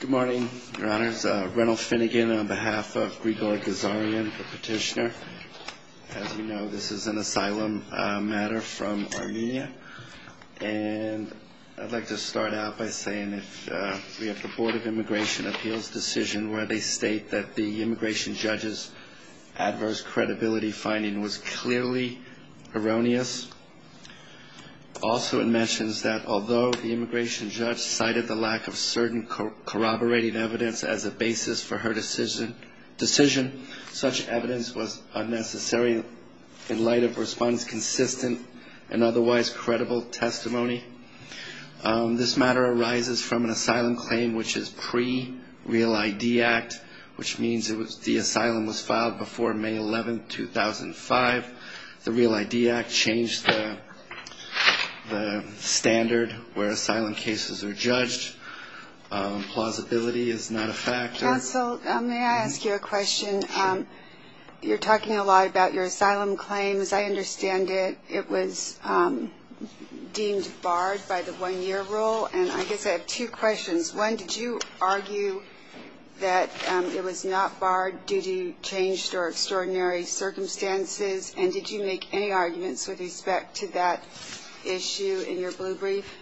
Good morning, Your Honors. Reynold Finnegan on behalf of Grigor Ghazaryan, the petitioner. As you know, this is an asylum matter from Armenia. And I'd like to start out by saying that we have the Board of Immigration Appeals decision where they state that the immigration judge's adverse credibility finding was clearly erroneous. Also, it mentions that although the immigration judge cited the lack of certain corroborating evidence as a basis for her decision, such evidence was unnecessary in light of respondents' consistent and otherwise credible testimony. This matter arises from an asylum claim which is pre-Real ID Act, which means the asylum was filed before May 11, 2005. The Real ID Act changed the standard where asylum cases are judged. Plausibility is not a factor. Counsel, may I ask you a question? Sure. You're talking a lot about your asylum claims. I understand it. It was deemed barred by the one-year rule. And I guess I have two questions. One, did you argue that it was not barred due to changed or extraordinary circumstances? And did you make any arguments with respect to that issue in your blue brief?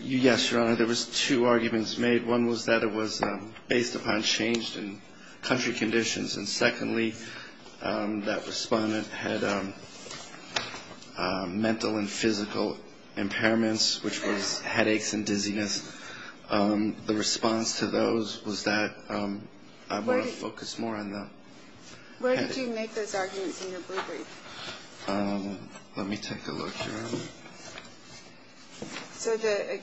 Yes, Your Honor. There was two arguments made. One was that it was based upon changed country conditions. And secondly, that respondent had mental and physical impairments, which was headaches and dizziness. The response to those was that I want to focus more on the headache. Where did you make those arguments in your blue brief? Let me take a look, Your Honor. So the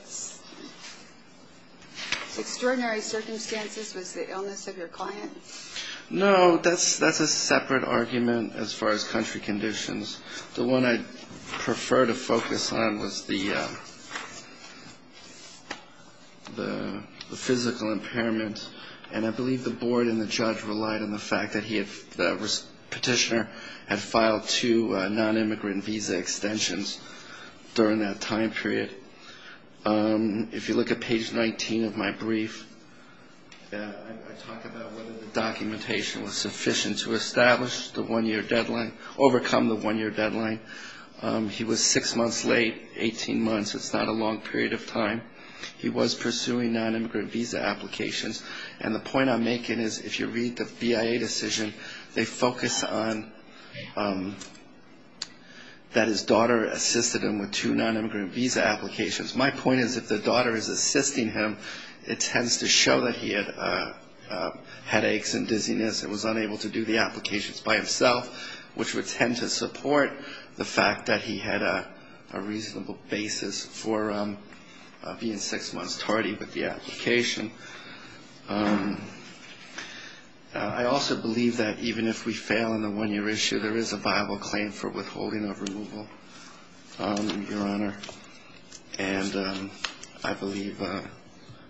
extraordinary circumstances was the illness of your client? No, that's a separate argument as far as country conditions. The one I prefer to focus on was the physical impairment. And I believe the board and the judge relied on the fact that the petitioner had filed two non-immigrant visa extensions during that time period. If you look at page 19 of my brief, I talk about whether the documentation was sufficient to establish the one-year deadline, overcome the one-year deadline. He was six months late, 18 months. It's not a long period of time. He was pursuing non-immigrant visa applications. And the point I'm making is if you read the BIA decision, they focus on that his daughter assisted him with two non-immigrant visa applications. My point is if the daughter is assisting him, it tends to show that he had headaches and dizziness and was unable to do the applications by himself, which would tend to support the fact that he had a reasonable basis for being six months tardy with the application. I also believe that even if we fail on the one-year issue, there is a viable claim for withholding of removal, Your Honor. And I believe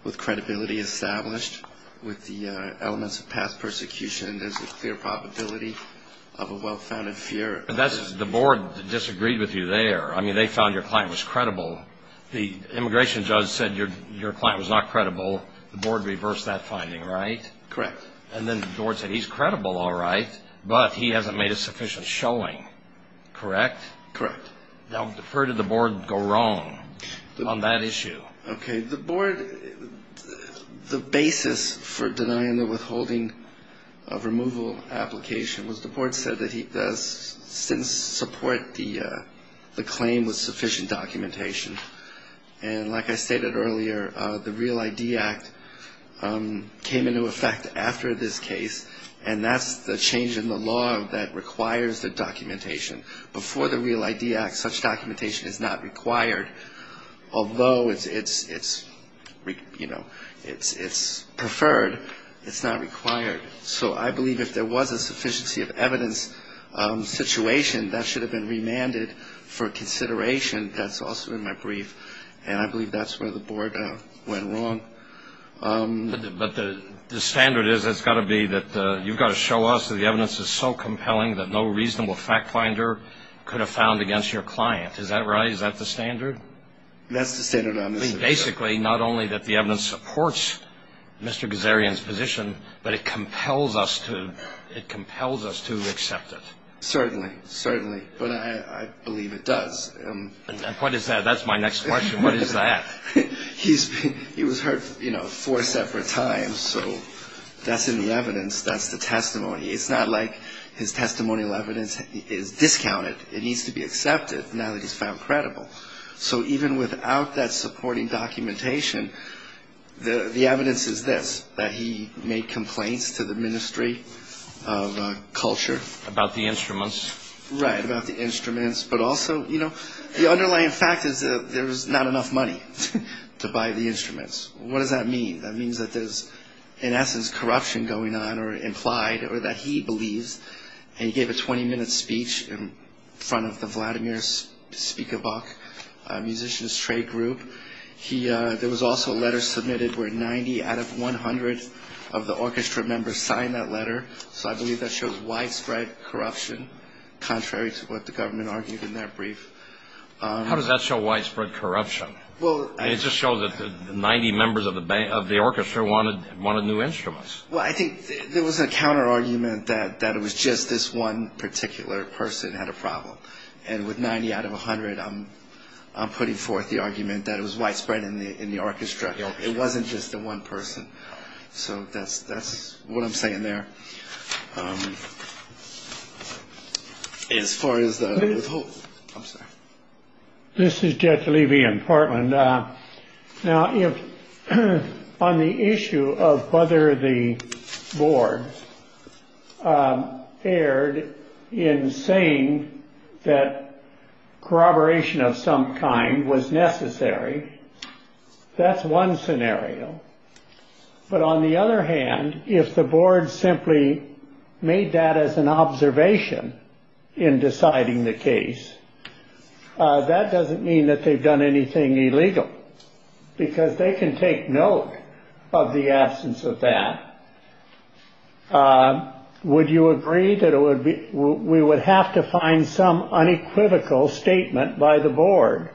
with credibility established with the elements of past persecution, there's a clear probability of a well-founded fear. The board disagreed with you there. So the immigration judge said your client was not credible. The board reversed that finding, right? Correct. And then the board said he's credible, all right, but he hasn't made a sufficient showing, correct? Correct. Now, where did the board go wrong on that issue? Okay. The board, the basis for denying the withholding of removal application was the board said that he does didn't support the claim with sufficient documentation. And like I stated earlier, the REAL ID Act came into effect after this case, and that's the change in the law that requires the documentation. Before the REAL ID Act, such documentation is not required. Although it's, you know, it's preferred, it's not required. So I believe if there was a sufficiency of evidence situation, that should have been remanded for consideration. That's also in my brief. And I believe that's where the board went wrong. But the standard is it's got to be that you've got to show us that the evidence is so compelling that no reasonable fact finder could have found against your client. Is that right? Is that the standard? That's the standard. Basically, not only that the evidence supports Mr. Gazarian's position, but it compels us to, it compels us to accept it. Certainly. Certainly. But I believe it does. And what is that? That's my next question. What is that? He's been, he was hurt, you know, four separate times. So that's in the evidence. That's the testimony. It's not like his testimonial evidence is discounted. It needs to be accepted now that he's found credible. So even without that supporting documentation, the evidence is this, that he made complaints to the Ministry of Culture. About the instruments. Right, about the instruments. But also, you know, the underlying fact is that there's not enough money to buy the instruments. What does that mean? That means that there's, in essence, corruption going on or implied or that he believes, and he gave a 20-minute speech in front of the Vladimir Spikabuck Musicians Trade Group. There was also a letter submitted where 90 out of 100 of the orchestra members signed that letter. So I believe that shows widespread corruption, contrary to what the government argued in that brief. How does that show widespread corruption? It just shows that 90 members of the orchestra wanted new instruments. Well, I think there was a counter-argument that it was just this one particular person had a problem. And with 90 out of 100, I'm putting forth the argument that it was widespread in the orchestra. It wasn't just the one person. So that's what I'm saying there. As far as the withholding, I'm sorry. This is Judge Levy in Portland. Now, on the issue of whether the board erred in saying that corroboration of some kind was necessary, that's one scenario. But on the other hand, if the board simply made that as an observation in deciding the case, that doesn't mean that they've done anything illegal because they can take note of the absence of that. Would you agree that it would be we would have to find some unequivocal statement by the board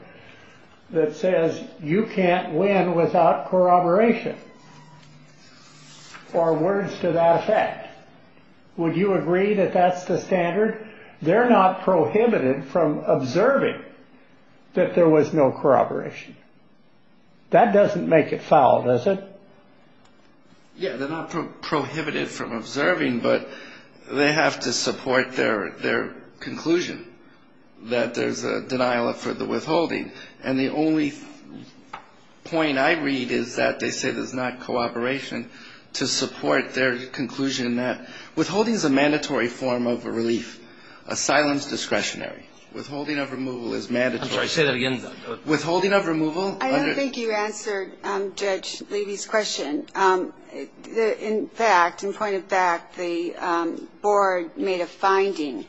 that says you can't win without corroboration or words to that effect? Would you agree that that's the standard? They're not prohibited from observing that there was no corroboration. That doesn't make it foul, does it? Yeah, they're not prohibited from observing, but they have to support their conclusion that there's a denial for the withholding. And the only point I read is that they say there's not cooperation to support their conclusion that withholding is a mandatory form of relief. A silence discretionary. Withholding of removal is mandatory. I'm sorry, say that again. Withholding of removal. I don't think you answered Judge Levy's question. In fact, in point of fact, the board made a finding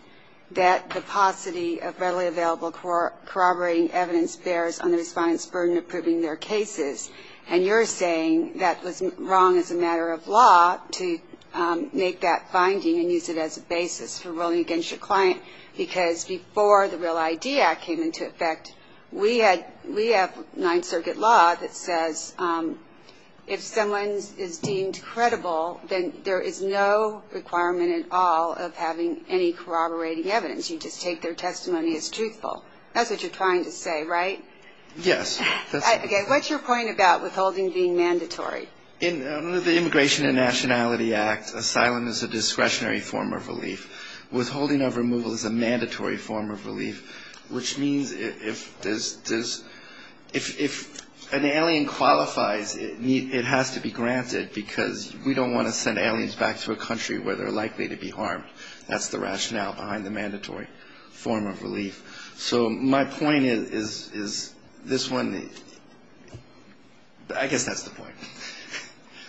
that the paucity of readily available corroborating evidence bears on the Respondent's burden of proving their cases. And you're saying that was wrong as a matter of law to make that finding and use it as a basis for ruling against your client. Because before the Real ID Act came into effect, we had we have Ninth Circuit law that says if someone is deemed credible, then there is no requirement at all of having any corroborating evidence. You just take their testimony as truthful. That's what you're trying to say, right? Yes. Okay. What's your point about withholding being mandatory? In the Immigration and Nationality Act, asylum is a discretionary form of relief. Withholding of removal is a mandatory form of relief, which means if there's, if an alien qualifies, it has to be granted because we don't want to send aliens back to a country where they're likely to be harmed. That's the rationale behind the mandatory form of relief. So my point is, is this one, I guess that's the point.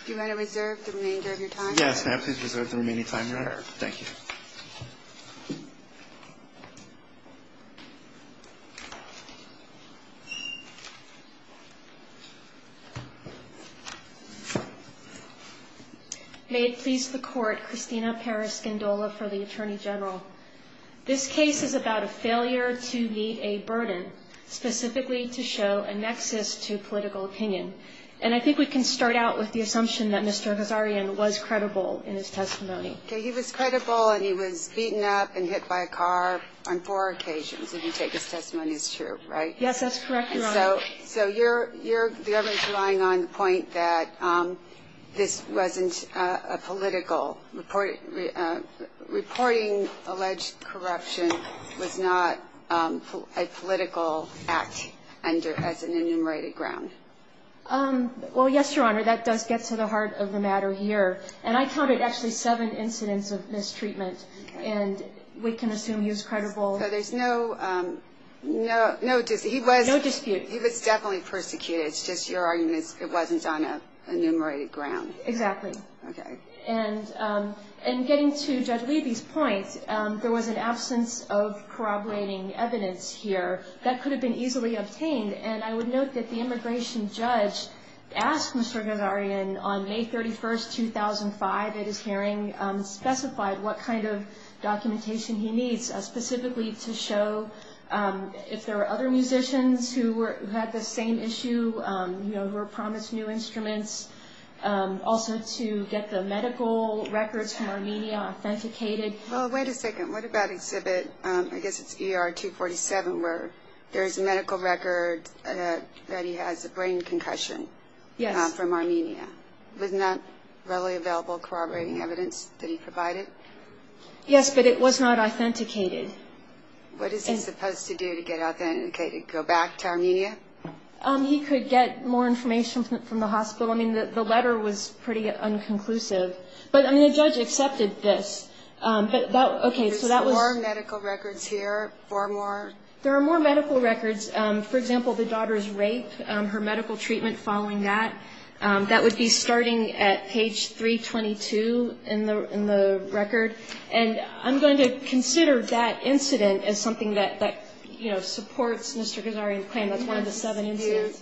Do you want to reserve the remainder of your time? Yes, ma'am. Please reserve the remaining time you have. Thank you. May it please the Court, Christina Perez-Skindola for the Attorney General. This case is about a failure to meet a burden, specifically to show a nexus to political opinion. And I think we can start out with the assumption that Mr. Hazarian was credible in his testimony. Okay. He was credible and he was beaten up and hit by a car on four occasions. And you take his testimony as true, right? Yes, that's correct, Your Honor. So you're relying on the point that this wasn't a political report. Reporting alleged corruption was not a political act as an enumerated ground. Well, yes, Your Honor, that does get to the heart of the matter here. And I counted actually seven incidents of mistreatment. And we can assume he was credible. So there's no dispute. No dispute. He was definitely persecuted. It's just your argument it wasn't on an enumerated ground. Exactly. Okay. And getting to Judge Levy's point, there was an absence of corroborating evidence here. That could have been easily obtained. And I would note that the immigration judge asked Mr. Hazarian on May 31, 2005, at his hearing, specified what kind of documentation he needs, specifically to show if there were other musicians who had the same issue, who were promised new instruments, also to get the medical records from Armenia authenticated. Well, wait a second. What about Exhibit, I guess it's ER 247, where there is a medical record that he has a brain concussion from Armenia, with not readily available corroborating evidence that he provided? Yes, but it was not authenticated. What is he supposed to do to get it authenticated, go back to Armenia? He could get more information from the hospital. I mean, the letter was pretty unconclusive. But, I mean, the judge accepted this. There's four medical records here, four more? There are more medical records. For example, the daughter's rape, her medical treatment following that. That would be starting at page 322 in the record. And I'm going to consider that incident as something that supports Mr. Hazarian's claim. That's one of the seven incidents.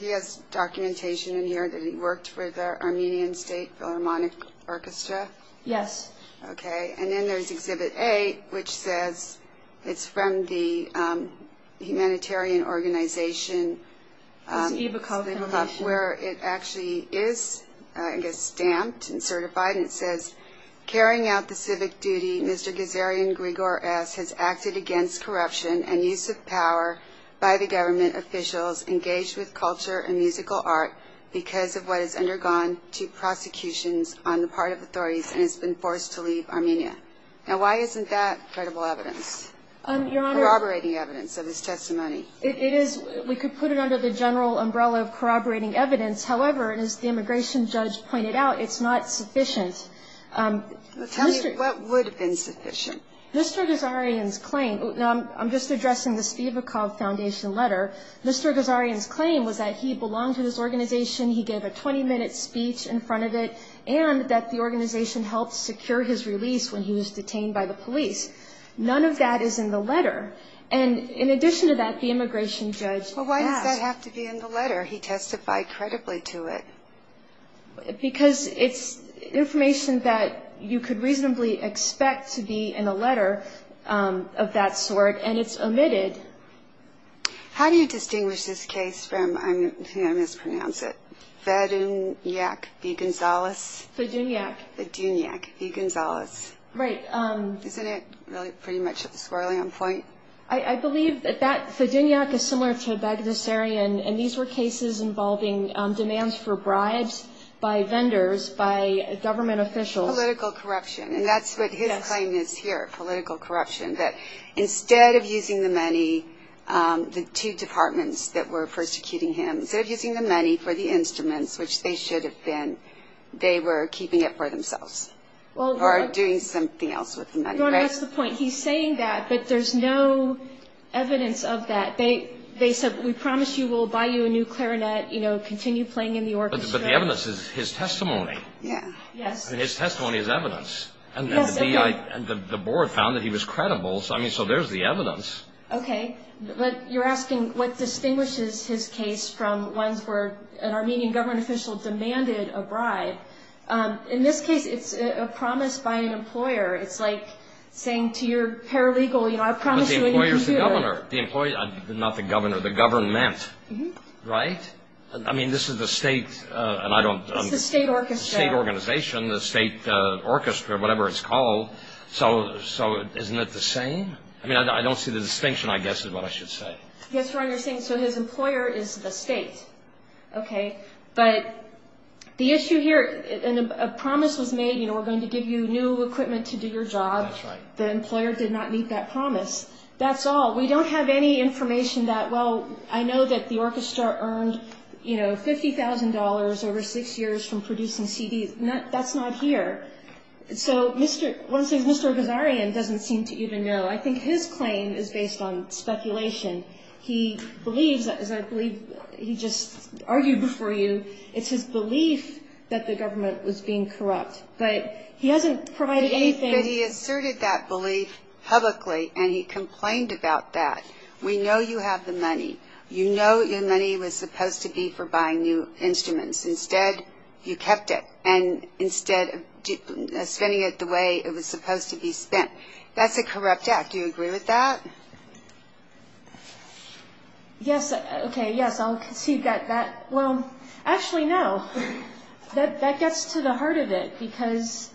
He has documentation in here that he worked with the Armenian State Philharmonic Orchestra? Yes. Okay. And then there's Exhibit A, which says it's from the humanitarian organization. Where it actually is, I guess, stamped and certified. And it says, Carrying out the civic duty, Mr. Hazarian Grigor S. has acted against corruption and use of power by the government officials engaged with culture and musical art because of what has undergone two prosecutions on the part of authorities and has been forced to leave Armenia. Now, why isn't that credible evidence, corroborating evidence of his testimony? It is. We could put it under the general umbrella of corroborating evidence. However, as the immigration judge pointed out, it's not sufficient. Tell me, what would have been sufficient? Mr. Hazarian's claim. Now, I'm just addressing the Stivakov Foundation letter. Mr. Hazarian's claim was that he belonged to this organization, he gave a 20-minute speech in front of it, and that the organization helped secure his release when he was detained by the police. None of that is in the letter. And in addition to that, the immigration judge asked. Well, why does that have to be in the letter? He testified credibly to it. Because it's information that you could reasonably expect to be in a letter of that sort, and it's omitted. How do you distinguish this case from, I'm going to mispronounce it, Fedunyak v. Gonzales? Fedunyak. Fedunyak v. Gonzales. Right. Isn't it pretty much at the squirreling point? I believe that Fedunyak is similar to Bagdasarian, and these were cases involving demands for bribes by vendors, by government officials. Political corruption, and that's what his claim is here, political corruption, that instead of using the money, the two departments that were persecuting him, instead of using the money for the instruments, which they should have been, they were keeping it for themselves. Or doing something else with the money, right? That's the point. He's saying that, but there's no evidence of that. They said, we promise you we'll buy you a new clarinet, continue playing in the orchestra. But the evidence is his testimony. Yes. His testimony is evidence. Yes, it is. And the board found that he was credible, so there's the evidence. Okay, but you're asking what distinguishes his case from ones where an Armenian government official demanded a bribe. In this case, it's a promise by an employer. It's like saying to your paralegal, you know, I promise you when you're here. But the employer is the governor. Not the governor, the government, right? I mean, this is the state, and I don't understand. It's the state orchestra. State organization, the state orchestra, whatever it's called. So isn't it the same? I mean, I don't see the distinction, I guess, is what I should say. I guess you're understanding. So his employer is the state, okay? But the issue here, and a promise was made, you know, we're going to give you new equipment to do your job. That's right. The employer did not meet that promise. That's all. We don't have any information that, well, I know that the orchestra earned, you know, $50,000 over six years from producing CDs. That's not here. So Mr. Gazarian doesn't seem to even know. I think his claim is based on speculation. He believes, as I believe he just argued before you, it's his belief that the government was being corrupt. But he hasn't provided anything. He asserted that belief publicly, and he complained about that. We know you have the money. You know your money was supposed to be for buying new instruments. Instead, you kept it, and instead of spending it the way it was supposed to be spent. That's a corrupt act. Do you agree with that? Yes. Okay, yes, I'll concede that. Well, actually, no. That gets to the heart of it because,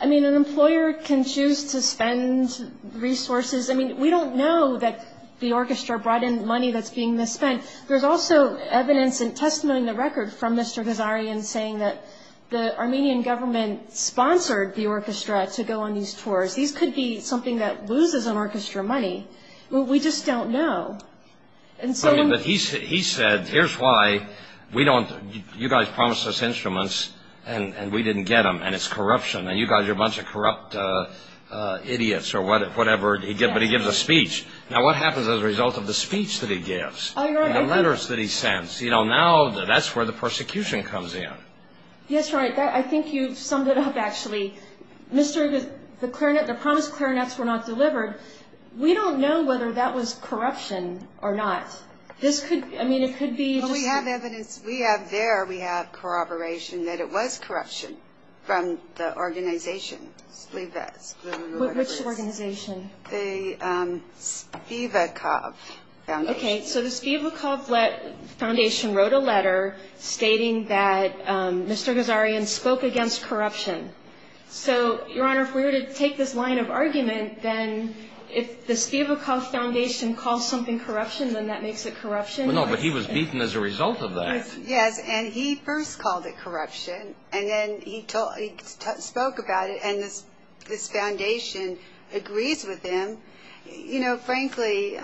I mean, an employer can choose to spend resources. I mean, we don't know that the orchestra brought in money that's being misspent. There's also evidence and testimony in the record from Mr. Gazarian saying that the Armenian government sponsored the orchestra to go on these tours. These could be something that loses an orchestra money. We just don't know. But he said, here's why you guys promised us instruments, and we didn't get them, and it's corruption, and you guys are a bunch of corrupt idiots or whatever, but he gives a speech. Now, what happens as a result of the speech that he gives and the letters that he sends? You know, now that's where the persecution comes in. I think you've summed it up, actually. The clarinet, the promised clarinets were not delivered. We don't know whether that was corruption or not. This could, I mean, it could be. Well, we have evidence. We have there, we have corroboration that it was corruption from the organization. Which organization? The Spivakov Foundation. Okay, so the Spivakov Foundation wrote a letter stating that Mr. Gazarian spoke against corruption. So, Your Honor, if we were to take this line of argument, then if the Spivakov Foundation calls something corruption, then that makes it corruption? Well, no, but he was beaten as a result of that. Yes, and he first called it corruption, and then he spoke about it, and this foundation agrees with him. You know, frankly,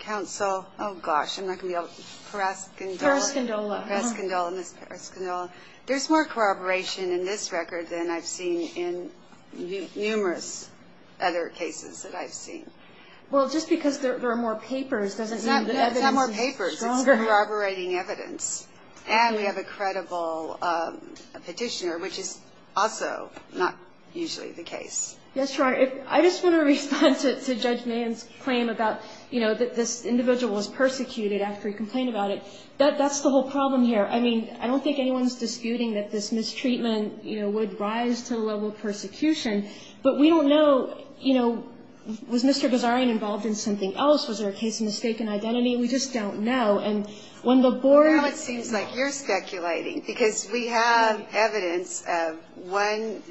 counsel, oh, gosh, I'm not going to be able to, Paraskindola. Paraskindola. Paraskindola, Ms. Paraskindola. There's more corroboration in this record than I've seen in numerous other cases that I've seen. Well, just because there are more papers doesn't mean the evidence is stronger. It's not more papers. It's corroborating evidence. And we have a credible petitioner, which is also not usually the case. Yes, Your Honor. I just want to respond to Judge Mann's claim about, you know, that this individual was persecuted after he complained about it. That's the whole problem here. I mean, I don't think anyone's disputing that this mistreatment, you know, would rise to the level of persecution. But we don't know, you know, was Mr. Ghazarian involved in something else? Was there a case of mistaken identity? We just don't know. And when the board ---- Well, now it seems like you're speculating because we have evidence of one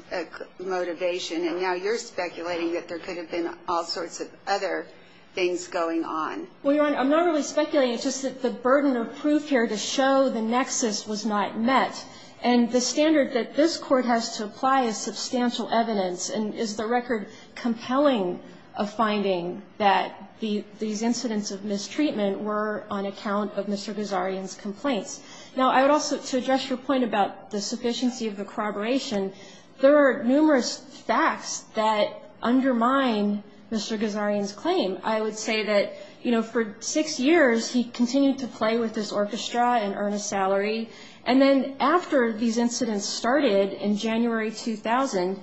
motivation, and now you're speculating that there could have been all sorts of other things going on. Well, Your Honor, I'm not really speculating. It's just that the burden of proof here to show the nexus was not met. And the standard that this Court has to apply is substantial evidence, and is the record compelling of finding that these incidents of mistreatment were on account of Mr. Ghazarian's complaints. Now, I would also, to address your point about the sufficiency of the corroboration, I would say that, you know, for six years he continued to play with this orchestra and earn a salary. And then after these incidents started in January 2000,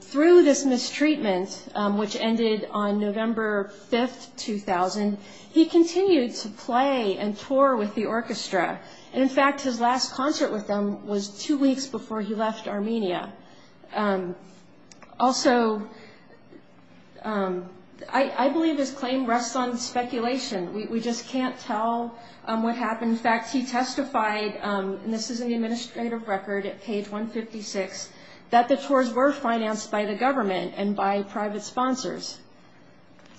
through this mistreatment, which ended on November 5, 2000, he continued to play and tour with the orchestra. And, in fact, his last concert with them was two weeks before he left Armenia. Also, I believe his claim rests on speculation. We just can't tell what happened. In fact, he testified, and this is in the administrative record at page 156, that the tours were financed by the government and by private sponsors.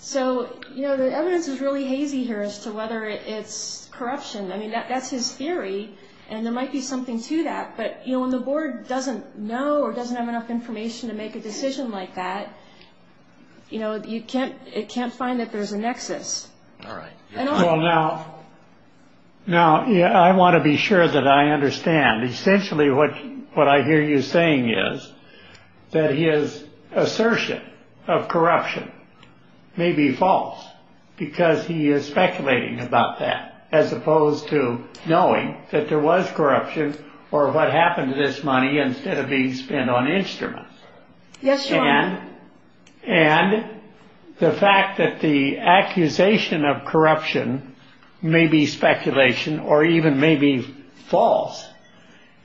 So, you know, the evidence is really hazy here as to whether it's corruption. I mean, that's his theory, and there might be something to that. But, you know, when the board doesn't know or doesn't have enough information to make a decision like that, you know, it can't find that there's a nexus. All right. Well, now, I want to be sure that I understand. Essentially, what I hear you saying is that his assertion of corruption may be false because he is speculating about that, as opposed to knowing that there was corruption or what happened to this money instead of being spent on instruments. Yes, Your Honor. And the fact that the accusation of corruption may be speculation or even may be false,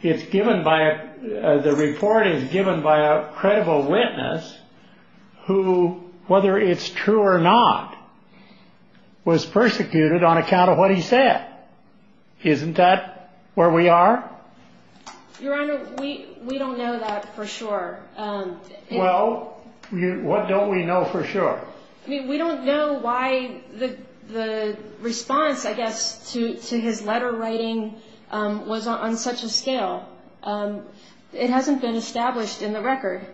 the report is given by a credible witness who, whether it's true or not, was persecuted on account of what he said. Isn't that where we are? Your Honor, we don't know that for sure. Well, what don't we know for sure? I mean, we don't know why the response, I guess, to his letter writing was on such a scale. It hasn't been established in the record.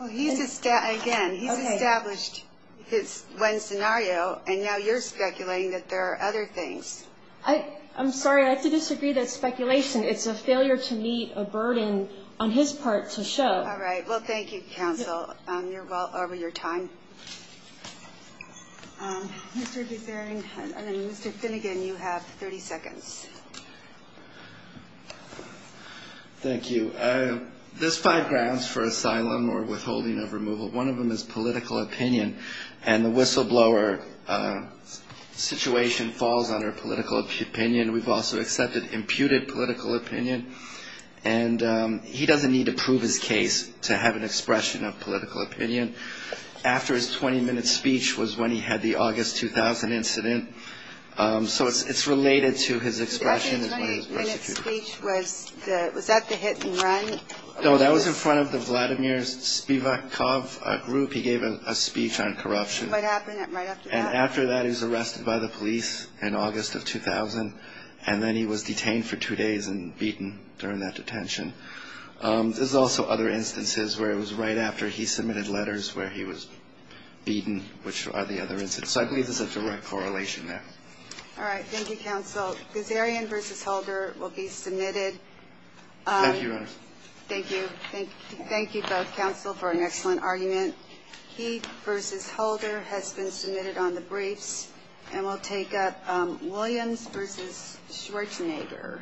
Again, he's established his one scenario, and now you're speculating that there are other things. I'm sorry. I have to disagree that speculation, it's a failure to meet a burden on his part to show. All right. Well, thank you, counsel. You're well over your time. Mr. Buzarian and then Mr. Finnegan, you have 30 seconds. Thank you. There's five grounds for asylum or withholding of removal. One of them is political opinion, and the whistleblower situation falls under political opinion. We've also accepted imputed political opinion. And he doesn't need to prove his case to have an expression of political opinion. After his 20-minute speech was when he had the August 2000 incident, so it's related to his expression. The 20-minute speech, was that the hit and run? No, that was in front of the Vladimir Spivakov group. He gave a speech on corruption. What happened right after that? After that, he was arrested by the police in August of 2000, and then he was detained for two days and beaten during that detention. There's also other instances where it was right after he submitted letters where he was beaten, which are the other instances. So I believe there's a direct correlation there. All right. Thank you, counsel. Buzarian v. Holder will be submitted. Thank you, Your Honor. Thank you. Thank you both, counsel, for an excellent argument. Heath v. Holder has been submitted on the briefs, and we'll take up Williams v. Schwarzenegger.